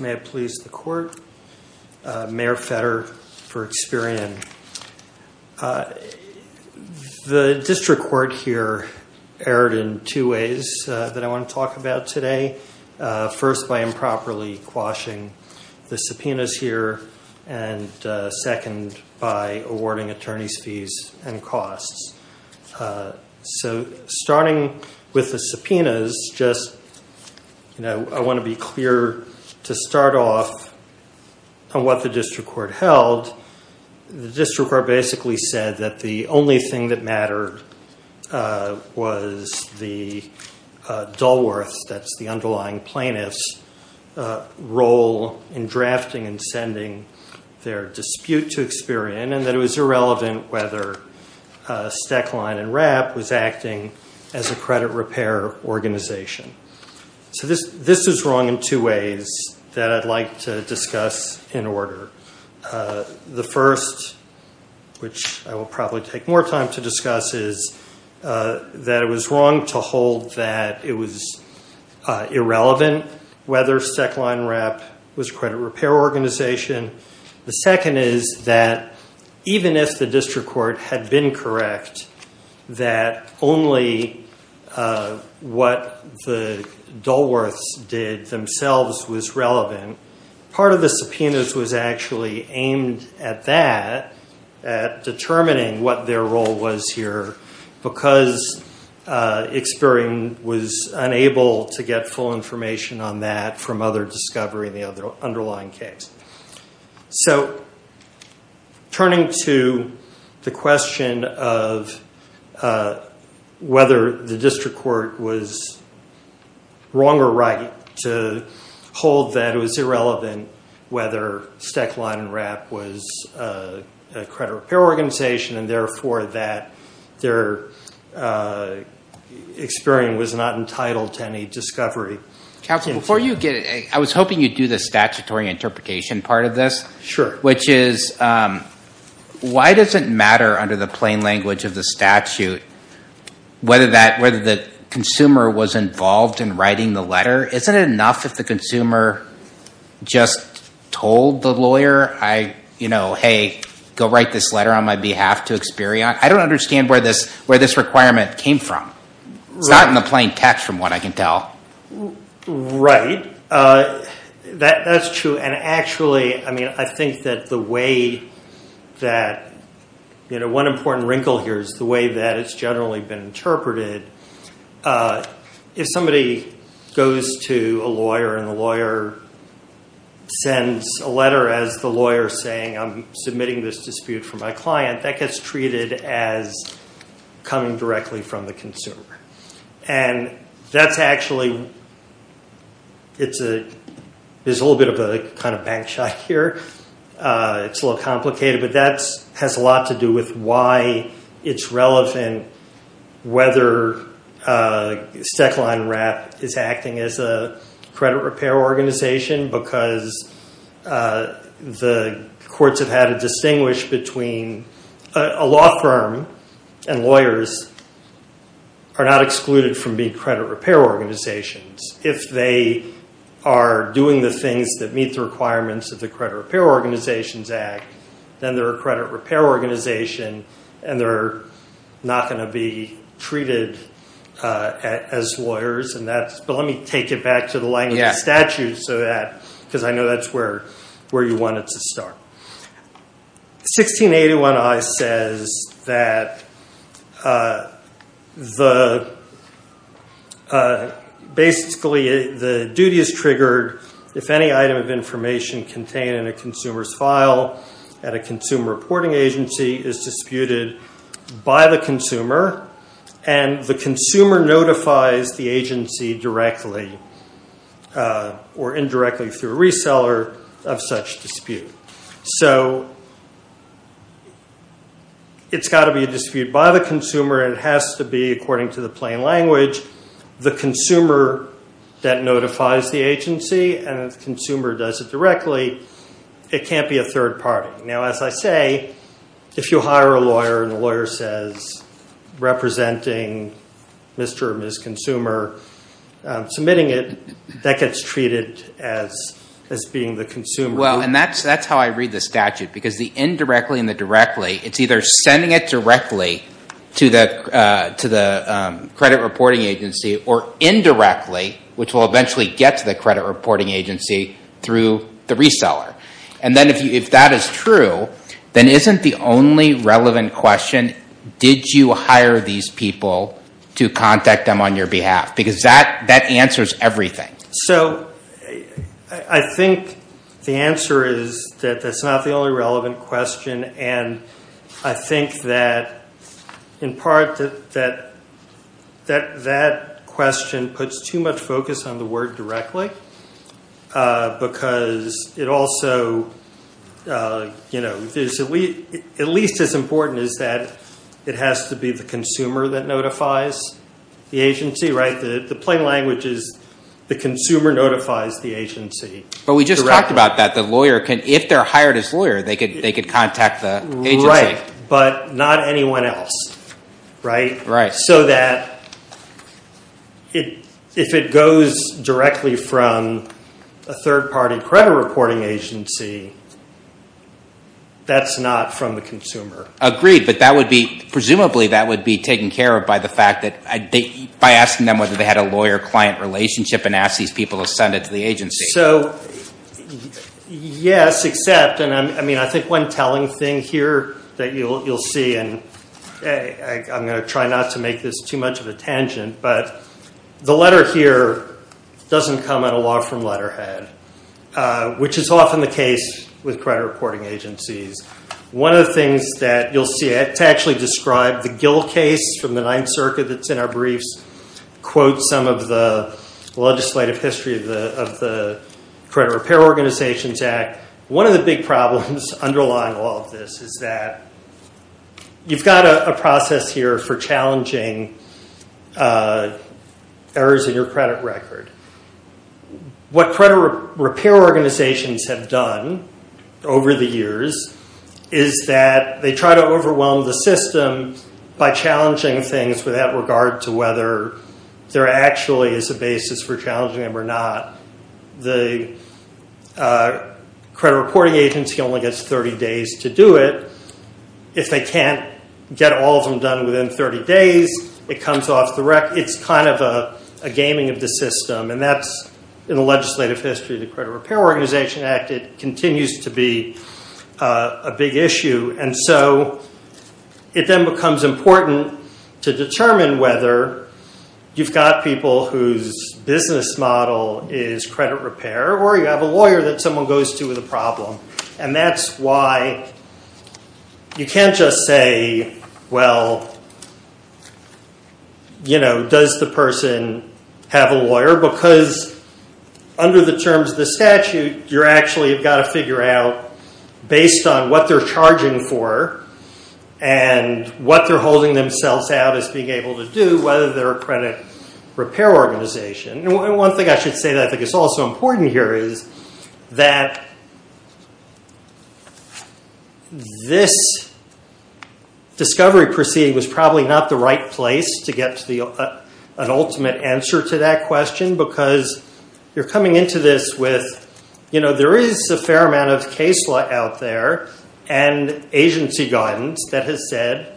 May I please the court? Mayor Fetter for Experian. The district court here erred in two ways that I want to talk about today. First, by improperly quashing the subpoenas here, and second, by awarding attorneys fees and costs. So, starting with the subpoenas, I want to be clear to start off on what the district court held. The district court basically said that the only thing that mattered was the Dulworth, that's the underlying plaintiff's role in drafting and sending their dispute to Experian, and that it was irrelevant whether Stecklein & Rapp was acting as a credit repair organization. So, this is wrong in two ways that I'd like to discuss in order. The first, which I will probably take more time to discuss, is that it was wrong to hold that it was irrelevant whether Stecklein & Rapp was a credit repair organization. The second is that even if the district court had been correct that only what the Dulworths did themselves was relevant, part of the subpoenas was actually aimed at that, at determining what their role was here, because Experian was unable to get full information on that from other discovery in the underlying case. So, turning to the question of whether the district court was wrong or right to hold that it was irrelevant whether Stecklein & Rapp was a credit repair organization, and therefore that their Experian was not entitled to any discovery. I was hoping you'd do the statutory interpretation part of this, which is why does it matter under the plain language of the statute whether the consumer was involved in writing the letter? Isn't it enough if the consumer just told the lawyer, hey, go write this letter on my behalf to Experian? I don't understand where this requirement came from. It's not in the plain text from what I can tell. Right. That's true. And actually, I mean, I think that the way that, you know, one important wrinkle here is the way that it's generally been interpreted. If somebody goes to a lawyer and the lawyer sends a letter as the lawyer saying I'm submitting this dispute for my client, that gets treated as coming directly from the consumer. And that's actually, there's a little bit of a kind of bank shot here. It's a little complicated. But that has a lot to do with why it's relevant whether Stekline WRAP is acting as a credit repair organization because the courts have had to distinguish between a law firm and lawyers are not excluded from being credit repair organizations. If they are doing the things that meet the requirements of the Credit Repair Organizations Act, then they're a credit repair organization and they're not going to be treated as lawyers. But let me take it back to the language of statute so that, because I know that's where you wanted to start. 1681I says that basically the duty is triggered if any item of information contained in a consumer's file at a consumer reporting agency is disputed by the consumer and the consumer notifies the agency directly or indirectly through reseller of such dispute. So it's got to be a dispute by the consumer and it has to be, according to the plain language, the consumer that notifies the agency and if the consumer does it directly, it can't be a third party. Now as I say, if you hire a lawyer and the lawyer says representing Mr. or Ms. Consumer submitting it, that gets treated as being the consumer. And that's how I read the statute because the indirectly and the directly, it's either sending it directly to the credit reporting agency or indirectly, which will eventually get to the credit reporting agency through the reseller. And then if that is true, then isn't the only relevant question, did you hire these people to contact them on your behalf? Because that answers everything. So I think the answer is that that's not the only relevant question and I think that in part that that question puts too much focus on the word directly because it also, at least as important as that, it has to be the consumer that notifies the agency. The plain language is the consumer notifies the agency. But we just talked about that. The lawyer can, if they're hired as lawyer, they could contact the agency. Right, but not anyone else. Right. So that if it goes directly from a third party credit reporting agency, that's not from the consumer. Agreed, but that would be, presumably that would be taken care of by the fact that, by asking them whether they had a lawyer-client relationship and ask these people to send it to the agency. So, yes, except, and I think one telling thing here that you'll see, and I'm going to try not to make this too much of a tangent, but the letter here doesn't come out of law from letterhead, which is often the case with credit reporting agencies. One of the things that you'll see, to actually describe the Gill case from the Ninth Circuit that's in our briefs, quote some of the legislative history of the Credit Repair Organizations Act. One of the big problems underlying all of this is that you've got a process here for challenging errors in your credit record. What credit repair organizations have done over the years is that they try to overwhelm the system by challenging things without regard to whether there actually is a basis for challenging them or not. The credit reporting agency only gets 30 days to do it. If they can't get all of them done within 30 days, it comes off the record. It's kind of a gaming of the system, and that's in the legislative history of the Credit Repair Organization Act. It continues to be a big issue, and so it then becomes important to determine whether you've got people whose business model is credit repair or you have a lawyer that someone goes to with a problem. That's why you can't just say, well, does the person have a lawyer? Because under the terms of the statute, you've actually got to figure out, based on what they're charging for and what they're holding themselves out as being able to do, whether they're a credit repair organization. One thing I should say that I think is also important here is that this discovery proceeding was probably not the right place to get an ultimate answer to that question because you're coming into this with, there is a fair amount of case law out there and agency guidance that has said,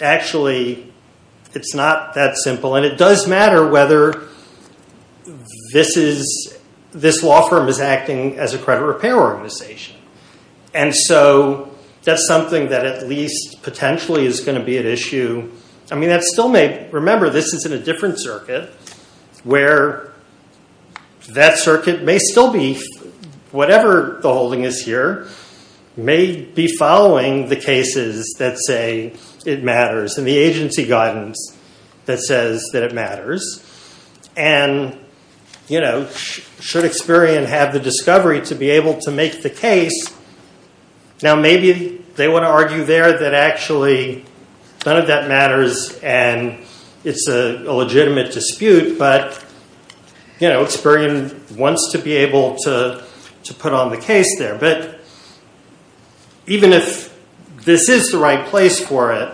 actually, it's not that simple. It does matter whether this law firm is acting as a credit repair organization. That's something that at least potentially is going to be an issue. Remember, this is in a different circuit where that circuit may still be, whatever the holding is here, may be following the cases that say it matters and the agency guidance that says that it matters and should Experian have the discovery to be able to make the case. Now, maybe they would argue there that actually none of that matters and it's a legitimate dispute, but Experian wants to be able to put on the case there. Even if this is the right place for it,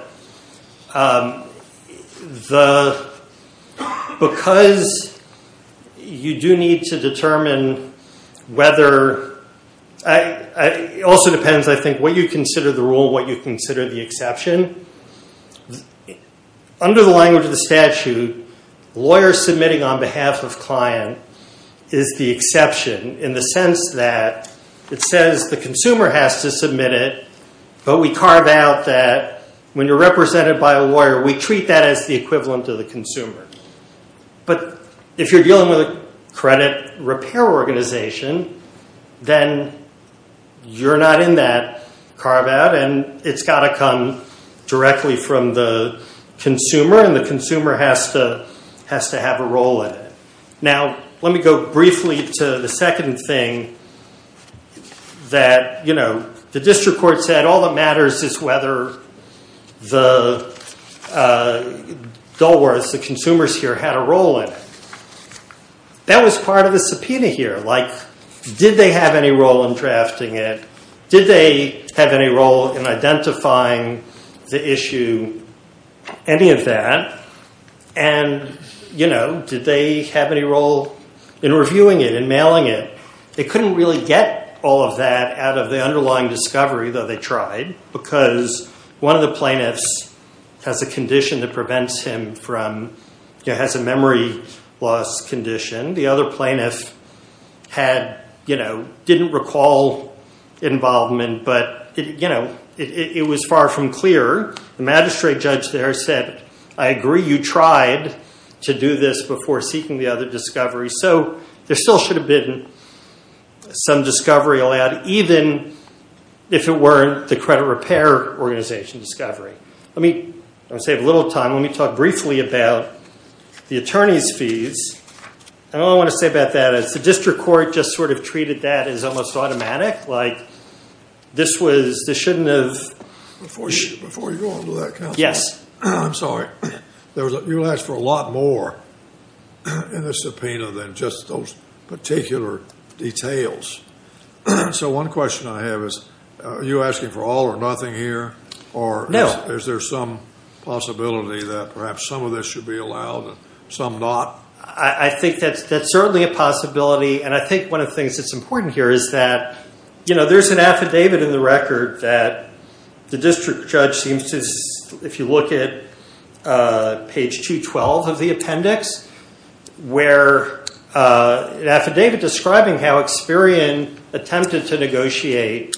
because you do need to determine whether, it also depends, I think, what you consider the rule, what you consider the exception. Under the language of the statute, lawyer submitting on behalf of client is the exception in the sense that it says the consumer has to submit it, but we carve out that when you're represented by a lawyer, we treat that as the equivalent of the consumer. But if you're dealing with a credit repair organization, then you're not in that carve out and it's got to come directly from the consumer and the consumer has to have a role in it. Now, let me go briefly to the second thing that the district court said, all that matters is whether the Dulworths, the consumers here, had a role in it. That was part of the subpoena here, like did they have any role in drafting it, did they have any role in identifying the issue, any of that, and did they have any role in reviewing it and mailing it. They couldn't really get all of that out of the underlying discovery, though they tried, because one of the plaintiffs has a condition that prevents him from, has a memory loss condition. The other plaintiff didn't recall involvement, but it was far from clear. The magistrate judge there said, I agree you tried to do this before seeking the other discovery, so there still should have been some discovery allowed, even if it weren't the credit repair organization discovery. I want to save a little time, let me talk briefly about the attorney's fees, and all I want to say about that is the district court just sort of treated that as almost automatic, like this shouldn't have. Before you go on to that counsel, I'm sorry, you asked for a lot more in the subpoena than just those particular details, so one question I have is are you asking for all or nothing here? Or is there some possibility that perhaps some of this should be allowed and some not? I think that's certainly a possibility, and I think one of the things that's important here is that there's an affidavit in the record that the district judge seems to, if you look at page 212 of the appendix, where an affidavit describing how Experian attempted to negotiate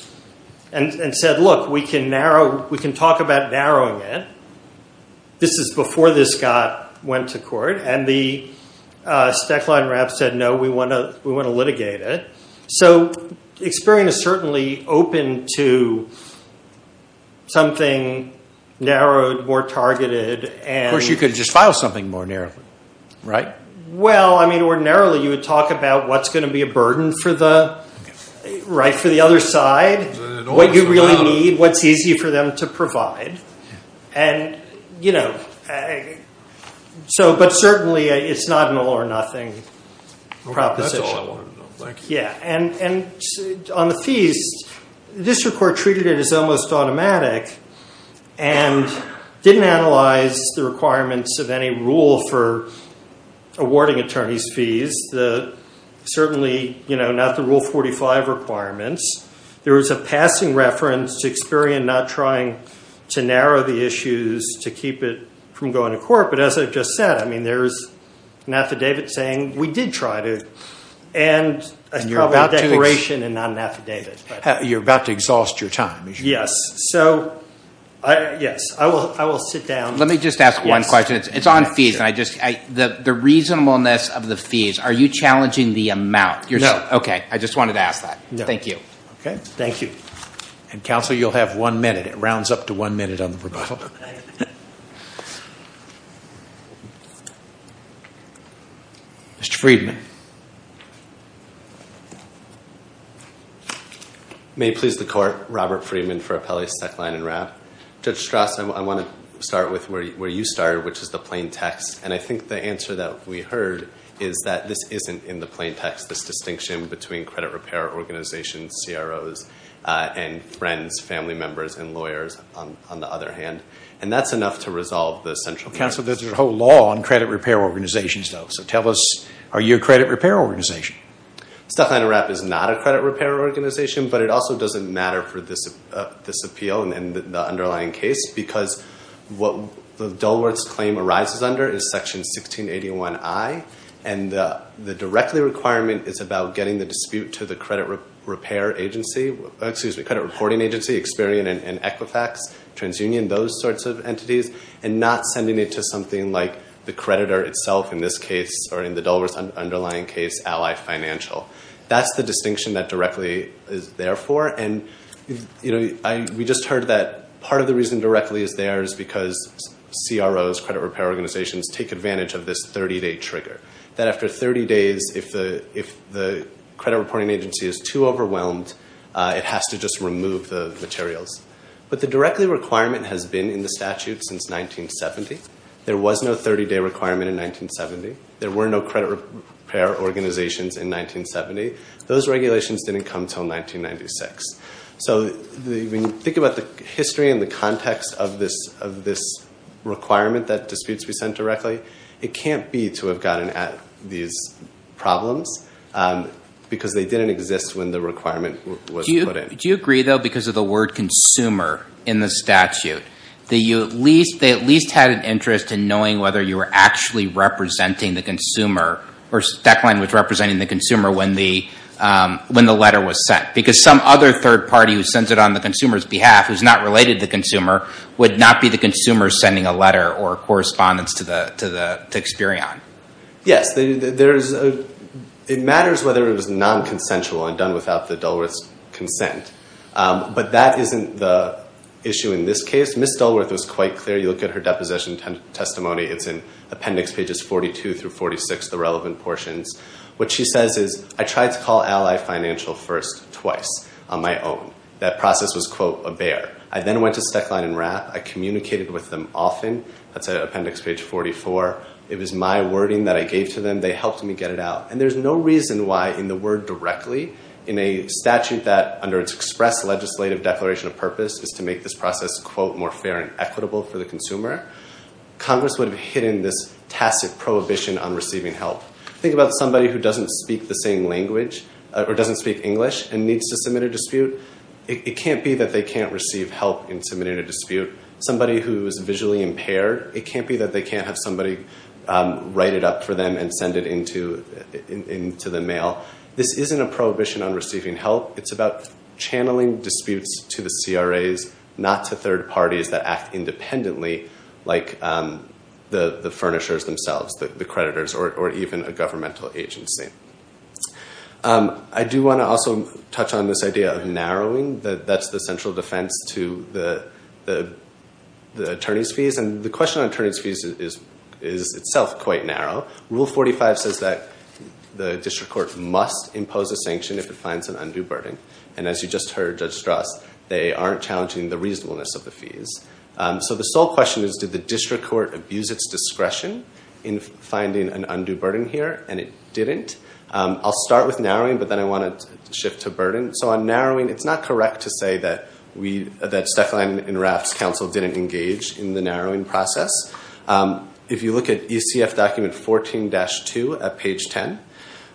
and said, look, we can narrow, we can talk about narrowing it. This is before this got, went to court, and the stack line reps said, no, we want to litigate it. So Experian is certainly open to something narrowed, more targeted, and Of course, you could just file something more narrowly, right? Well, I mean, ordinarily you would talk about what's going to be a burden for the other side, what you really need, what's easy for them to provide. But certainly it's not an all or nothing proposition. That's all I want to know, thank you. And on the fees, the district court treated it as almost automatic and didn't analyze the requirements of any rule for awarding attorneys' fees, certainly not the Rule 45 requirements. There was a passing reference to Experian not trying to narrow the issues to keep it from going to court. But as I just said, I mean, there's an affidavit saying we did try to. And it's probably a declaration and not an affidavit. You're about to exhaust your time. Yes. So, yes, I will sit down. Let me just ask one question. It's on fees. The reasonableness of the fees, are you challenging the amount? No. Okay, I just wanted to ask that. Thank you. Okay, thank you. And counsel, you'll have one minute. It rounds up to one minute on the rebuttal. Okay. Mr. Freedman. May it please the court, Robert Freedman for Appellee Stecklein and Rapp. Judge Strass, I want to start with where you started, which is the plain text. And I think the answer that we heard is that this isn't in the plain text, this distinction between credit repair organizations, CROs, and friends, family members, and lawyers, on the other hand. And that's enough to resolve the central case. Counsel, there's a whole law on credit repair organizations, though. So tell us, are you a credit repair organization? Stecklein and Rapp is not a credit repair organization, but it also doesn't matter for this appeal and the underlying case because what the Dulworth's claim arises under is Section 1681I. And the directly requirement is about getting the dispute to the credit reporting agency, Experian and Equifax, TransUnion, those sorts of entities, and not sending it to something like the creditor itself in this case or in the Dulworth's underlying case, Ally Financial. That's the distinction that directly is there for. We just heard that part of the reason directly is there is because CROs, credit repair organizations, take advantage of this 30-day trigger. That after 30 days, if the credit reporting agency is too overwhelmed, it has to just remove the materials. But the directly requirement has been in the statute since 1970. There was no 30-day requirement in 1970. There were no credit repair organizations in 1970. Those regulations didn't come until 1996. So when you think about the history and the context of this requirement that disputes be sent directly, it can't be to have gotten at these problems because they didn't exist when the requirement was put in. Do you agree, though, because of the word consumer in the statute, that you at least had an interest in knowing whether you were actually representing the consumer or Stecklein was representing the consumer when the letter was sent? Because some other third party who sends it on the consumer's behalf who's not related to the consumer would not be the consumer sending a letter or correspondence to Experion. Yes. It matters whether it was non-consensual and done without the Dulworth's consent. But that isn't the issue in this case. Ms. Dulworth was quite clear. You look at her deposition testimony. It's in appendix pages 42 through 46, the relevant portions. What she says is, I tried to call Ally Financial first twice on my own. That process was, quote, a bear. I then went to Stecklein and Rapp. I communicated with them often. That's appendix page 44. It was my wording that I gave to them. They helped me get it out. And there's no reason why in the word directly in a statute that, under its express legislative declaration of purpose, is to make this process, quote, more fair and equitable for the consumer, Congress would have hidden this tacit prohibition on receiving help. Think about somebody who doesn't speak the same language, or doesn't speak English, and needs to submit a dispute. It can't be that they can't receive help in submitting a dispute. Somebody who is visually impaired, it can't be that they can't have somebody write it up for them and send it into the mail. This isn't a prohibition on receiving help. It's about channeling disputes to the CRAs, not to third parties that act independently like the furnishers themselves, the creditors, or even a governmental agency. I do want to also touch on this idea of narrowing. That's the central defense to the attorney's fees. And the question on attorney's fees is itself quite narrow. Rule 45 says that the district court must impose a sanction if it finds an undue burden. And as you just heard, Judge Strauss, they aren't challenging the reasonableness of the fees. So the sole question is, did the district court abuse its discretion in finding an undue burden here? And it didn't. I'll start with narrowing, but then I want to shift to burden. So on narrowing, it's not correct to say that Stefan and Raft's counsel didn't engage in the narrowing process. If you look at ECF document 14-2 at page 10,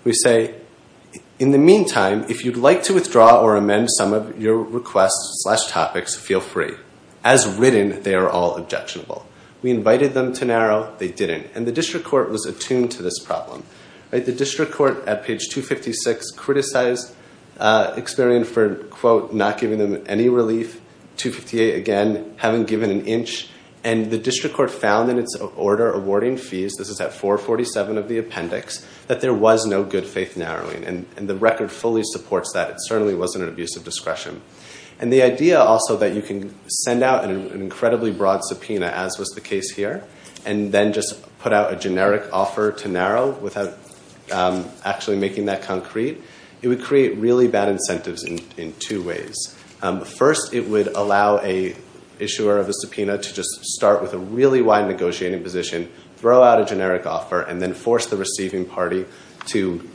we say, in the meantime, if you'd like to withdraw or amend some of your requests slash topics, feel free. As written, they are all objectionable. We invited them to narrow. They didn't. And the district court was attuned to this problem. The district court at page 256 criticized Experian for, quote, not giving them any relief. 258, again, having given an inch. And the district court found in its order awarding fees, this is at 447 of the appendix, that there was no good faith narrowing. And the record fully supports that. It certainly wasn't an abuse of discretion. And the idea also that you can send out an incredibly broad subpoena, as was the case here, and then just put out a generic offer to narrow without actually making that concrete, it would create really bad incentives in two ways. First, it would allow an issuer of a subpoena to just start with a really wide negotiating position, throw out a generic offer, and then force the receiving party to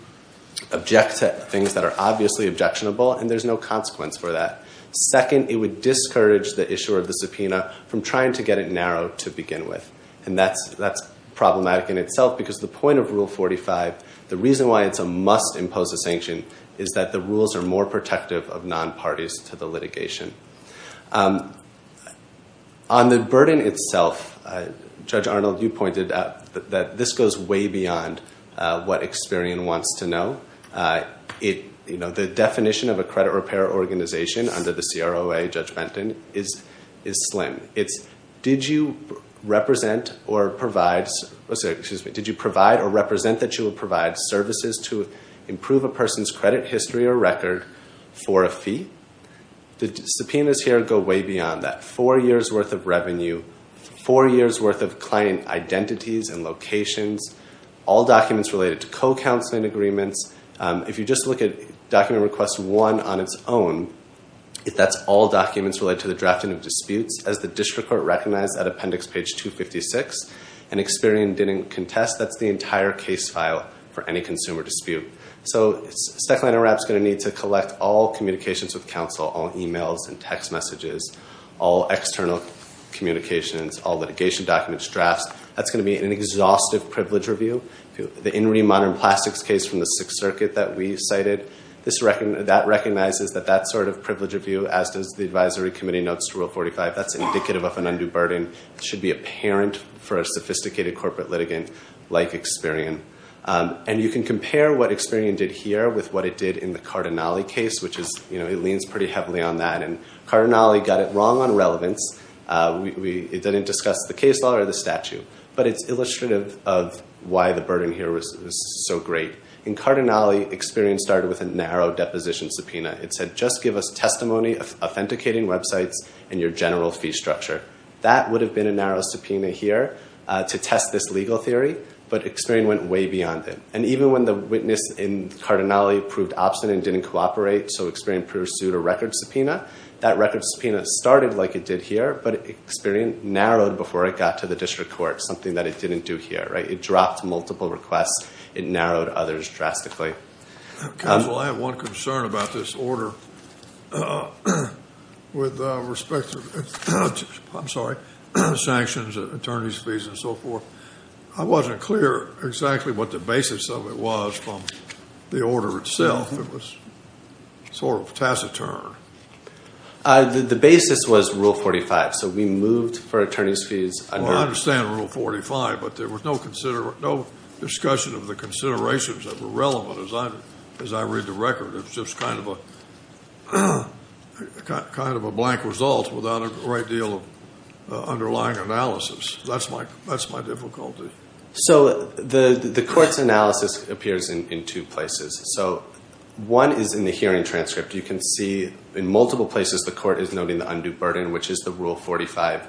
object to things that are obviously objectionable, and there's no consequence for that. Second, it would discourage the issuer of the subpoena from trying to get it narrowed to begin with. And that's problematic in itself because the point of Rule 45, the reason why it's a must-impose-a-sanction, is that the rules are more protective of non-parties to the litigation. On the burden itself, Judge Arnold, you pointed out that this goes way beyond what Experian wants to know. The definition of a credit repair organization under the CROA, Judge Benton, is slim. It's, did you represent or provide... Oh, sorry, excuse me. Did you provide or represent that you would provide services to improve a person's credit history or record for a fee? The subpoenas here go way beyond that. Four years' worth of revenue, four years' worth of client identities and locations, all documents related to co-counseling agreements. If you just look at Document Request 1 on its own, that's all documents related to the drafting of disputes. As the district court recognized at Appendix Page 256, and Experian didn't contest, that's the entire case file for any consumer dispute. So Stechland and Rapp's going to need to collect all communications with counsel, all emails and text messages, all external communications, all litigation documents, drafts. That's going to be an exhaustive privilege review. The In Re Modern Plastics case from the Sixth Circuit that we cited, that recognizes that that sort of privilege review, as does the advisory committee notes to Rule 45, that's indicative of an undue burden. It should be apparent for a sophisticated corporate litigant like Experian. And you can compare what Experian did here with what it did in the Cardinale case, which is, you know, it leans pretty heavily on that. And Cardinale got it wrong on relevance. It didn't discuss the case law or the statute. But it's illustrative of why the burden here was so great. In Cardinale, Experian started with a narrow deposition subpoena. It said, just give us testimony, authenticating websites, and your general fee structure. That would have been a narrow subpoena here to test this legal theory, but Experian went way beyond it. And even when the witness in Cardinale proved obstinate and didn't cooperate, so Experian pursued a record subpoena. That record subpoena started like it did here, but Experian narrowed before it got to the district court, something that it didn't do here. It dropped multiple requests. It narrowed others drastically. Counsel, I have one concern about this order with respect to sanctions, attorneys' fees, and so forth. I wasn't clear exactly what the basis of it was from the order itself. It was sort of taciturn. The basis was Rule 45, so we moved for attorneys' fees. I understand Rule 45, but there was no discussion of the considerations that were relevant as I read the record. It was just kind of a blank result without a great deal of underlying analysis. That's my difficulty. So the court's analysis appears in two places. One is in the hearing transcript. You can see in multiple places the court is noting the undue burden, which is the Rule 45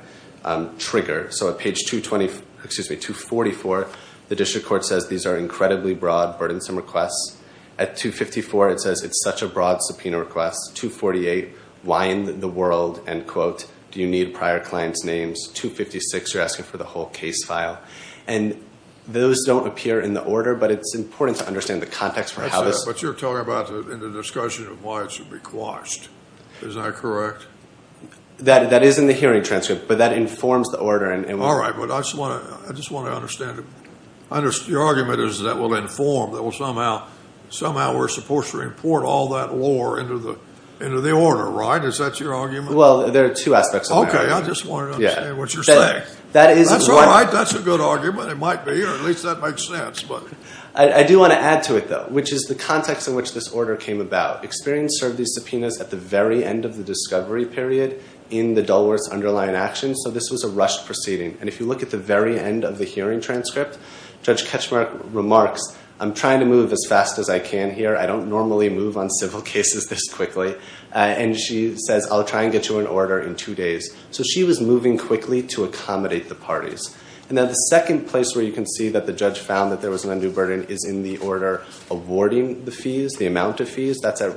trigger. So at page 244, the district court says, these are incredibly broad, burdensome requests. At 254, it says, it's such a broad subpoena request. 248, why in the world, end quote, do you need prior clients' names? 256, you're asking for the whole case file. And those don't appear in the order, but it's important to understand the context. But you're talking about in the discussion of why it should be quashed. Is that correct? That is in the hearing transcript, but that informs the order. All right, but I just want to understand. Your argument is that it will inform, that somehow we're supposed to report all that lore into the order, right? Is that your argument? Well, there are two aspects of my argument. Okay, I just wanted to understand what you're saying. That's all right. That's a good argument. It might be, or at least that makes sense. I do want to add to it, though, which is the context in which this order came about. Experience served these subpoenas at the very end of the discovery period in the Dulworth's underlying actions, so this was a rushed proceeding. And if you look at the very end of the hearing transcript, Judge Ketchmark remarks, I'm trying to move as fast as I can here. I don't normally move on civil cases this quickly. And she says, I'll try and get you an order in two days. So she was moving quickly to accommodate the parties. And then the second place where you can see that the judge found that there was an undue burden is in the order awarding the fees, the amount of fees. That's at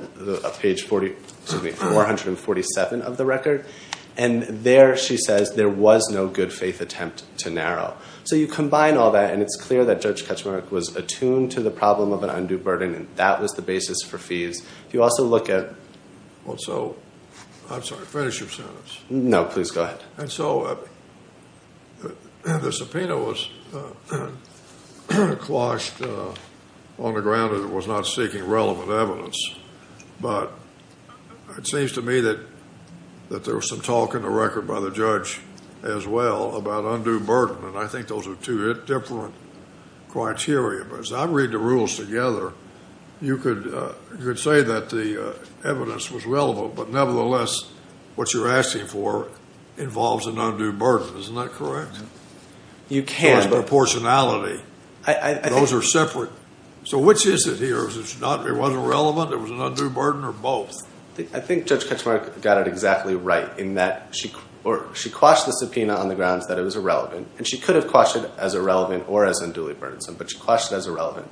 page 447 of the record. And there she says, there was no good faith attempt to narrow. So you combine all that, and it's clear that Judge Ketchmark was attuned to the problem of an undue burden, and that was the basis for fees. If you also look at... Well, so, I'm sorry, finish your sentence. No, please go ahead. And so the subpoena was quashed on the ground that it was not seeking relevant evidence. But it seems to me that there was some talk in the record by the judge as well about undue burden, and I think those are two different criteria. But as I read the rules together, you could say that the evidence was relevant, but nevertheless, what you're asking for involves an undue burden. Isn't that correct? You can. Proportionality. Those are separate. So which is it here? It wasn't relevant, it was an undue burden, or both? I think Judge Ketchmark got it exactly right in that she quashed the subpoena on the grounds that it was irrelevant. And she could have quashed it as irrelevant or as unduly burdensome, but she quashed it as irrelevant.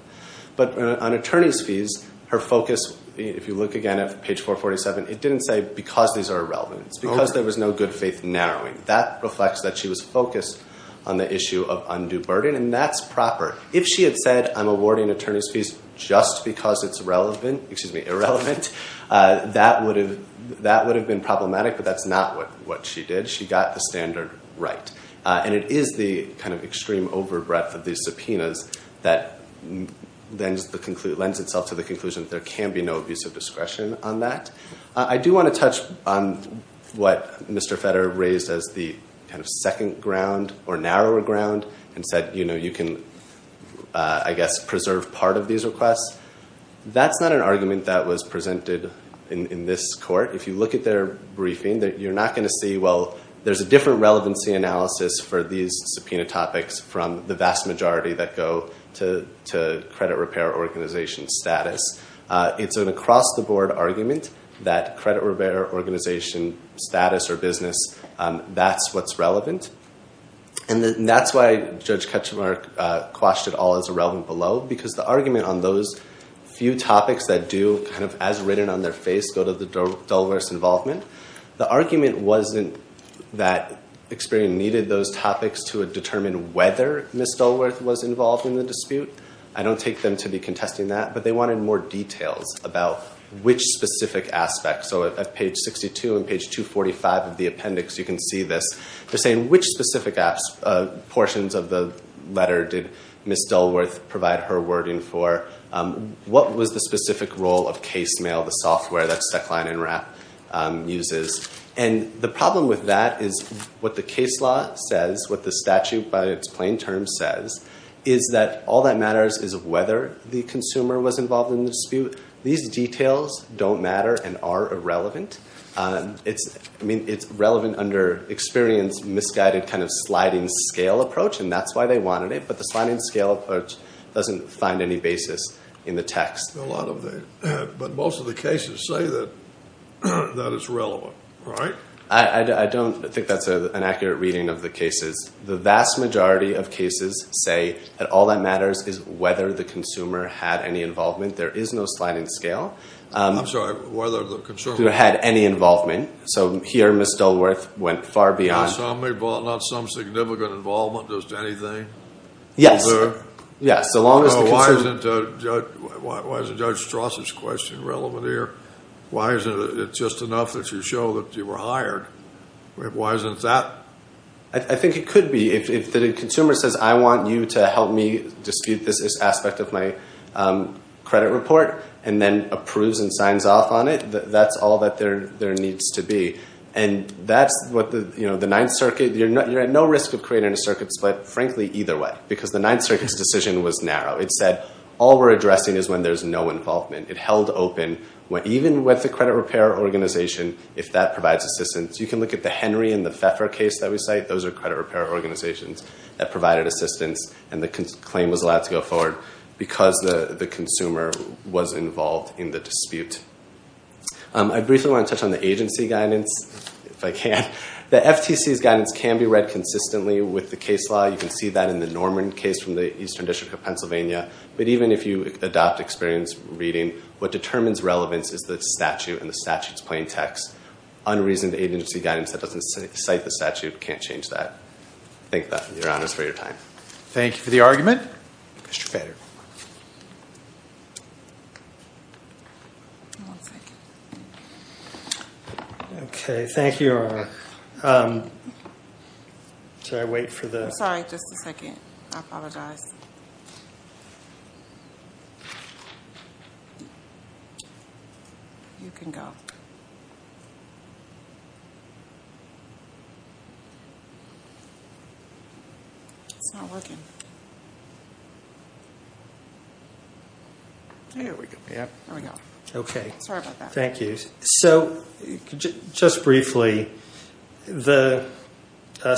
But on attorney's fees, her focus, if you look again at page 447, it didn't say because these are irrelevant. It's because there was no good faith narrowing. That reflects that she was focused on the issue of undue burden, and that's proper. If she had said I'm awarding attorney's fees just because it's irrelevant, that would have been problematic, but that's not what she did. She got the standard right. And it is the kind of extreme over-breath of these subpoenas that lends itself to the conclusion that there can be no abuse of discretion on that. I do want to touch on what Mr. Fetter raised as the second ground or narrower ground and said you can, I guess, preserve part of these requests. That's not an argument that was presented in this court. If you look at their briefing, you're not going to see, well, there's a different relevancy analysis for these subpoena topics from the vast majority that go to credit repair organization status. It's an across-the-board argument that credit repair organization status or business, that's what's relevant. And that's why Judge Ketcham and I quashed it all as irrelevant below, because the argument on those few topics that do kind of as written on their face go to the dullest involvement. The argument wasn't that Experian needed those topics to determine whether Ms. Dullworth was involved in the dispute. I don't take them to be contesting that. But they wanted more details about which specific aspects. So at page 62 and page 245 of the appendix, you can see this. They're saying which specific portions of the letter did Ms. Dullworth provide her wording for. What was the specific role of case mail, the software that's And the problem with that is what the case law says, what the statute by its plain terms says, is that all that matters is whether the consumer was involved in the dispute. These details don't matter and are irrelevant. It's relevant under Experian's misguided kind of sliding scale approach, and that's why they wanted it. But the sliding scale approach doesn't find any basis in the text. But most of the cases say that it's relevant, right? I don't think that's an accurate reading of the cases. The vast majority of cases say that all that matters is whether the consumer had any involvement. There is no sliding scale. I'm sorry, whether the consumer had any involvement. So here Ms. Dullworth went far beyond. Not some significant involvement, just anything? Yes. Why isn't Judge Strauss's question relevant here? Why isn't it just enough that you show that you were hired? Why isn't that? I think it could be. If the consumer says, I want you to help me dispute this aspect of my credit report, and then approves and signs off on it, that's all that there needs to be. And that's what the Ninth Circuit, you're at no risk of creating a circuit split, frankly, either way, because the Ninth Circuit's decision was narrow. It said all we're addressing is when there's no involvement. It held open, even with the credit repair organization, if that provides assistance. You can look at the Henry and the Pfeffer case that we cite. Those are credit repair organizations that provided assistance, and the claim was allowed to go forward because the consumer was involved in the dispute. I briefly want to touch on the agency guidance, if I can. The FTC's guidance can be read consistently with the case law. You can see that in the Norman case from the Eastern District of Pennsylvania. But even if you adopt experience reading, what determines relevance is the statute and the statute's plain text. Unreasoned agency guidance that doesn't cite the statute can't change that. Thank you, Your Honors, for your time. Thank you for the argument. Mr. Bader. Okay, thank you. Sorry, just a second. I apologize. You can go. It's not working. There we go. Okay. Sorry about that. Thank you. All right. So just briefly, the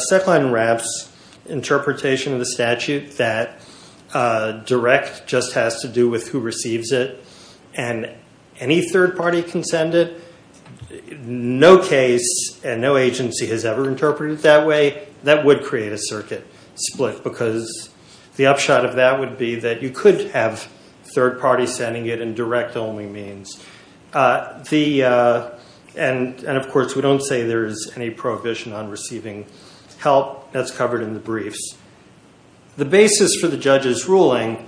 set line wraps interpretation of the statute that direct just has to do with who receives it, and any third party can send it. No case and no agency has ever interpreted it that way. That would create a circuit split because the upshot of that would be that you could have third party sending it in direct only means. And, of course, we don't say there is any prohibition on receiving help. That's covered in the briefs. The basis for the judge's ruling,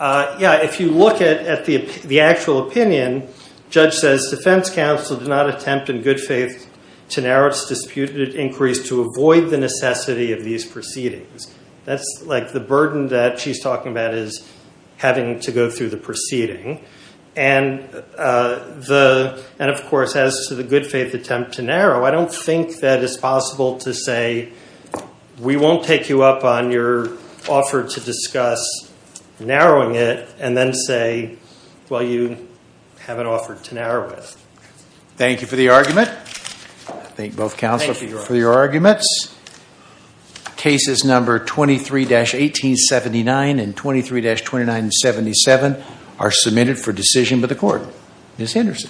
yeah, if you look at the actual opinion, judge says defense counsel did not attempt in good faith to narrow its disputed inquiries to avoid the necessity of these proceedings. That's like the burden that she's talking about is having to go through the proceeding. And, of course, as to the good faith attempt to narrow, I don't think that it's possible to say we won't take you up on your offer to discuss narrowing it, and then say, well, you have an offer to narrow it. Thank you for the argument. Thank both counsel for your arguments. Cases number 23-1879 and 23-2977 are submitted for decision by the court. Ms. Henderson.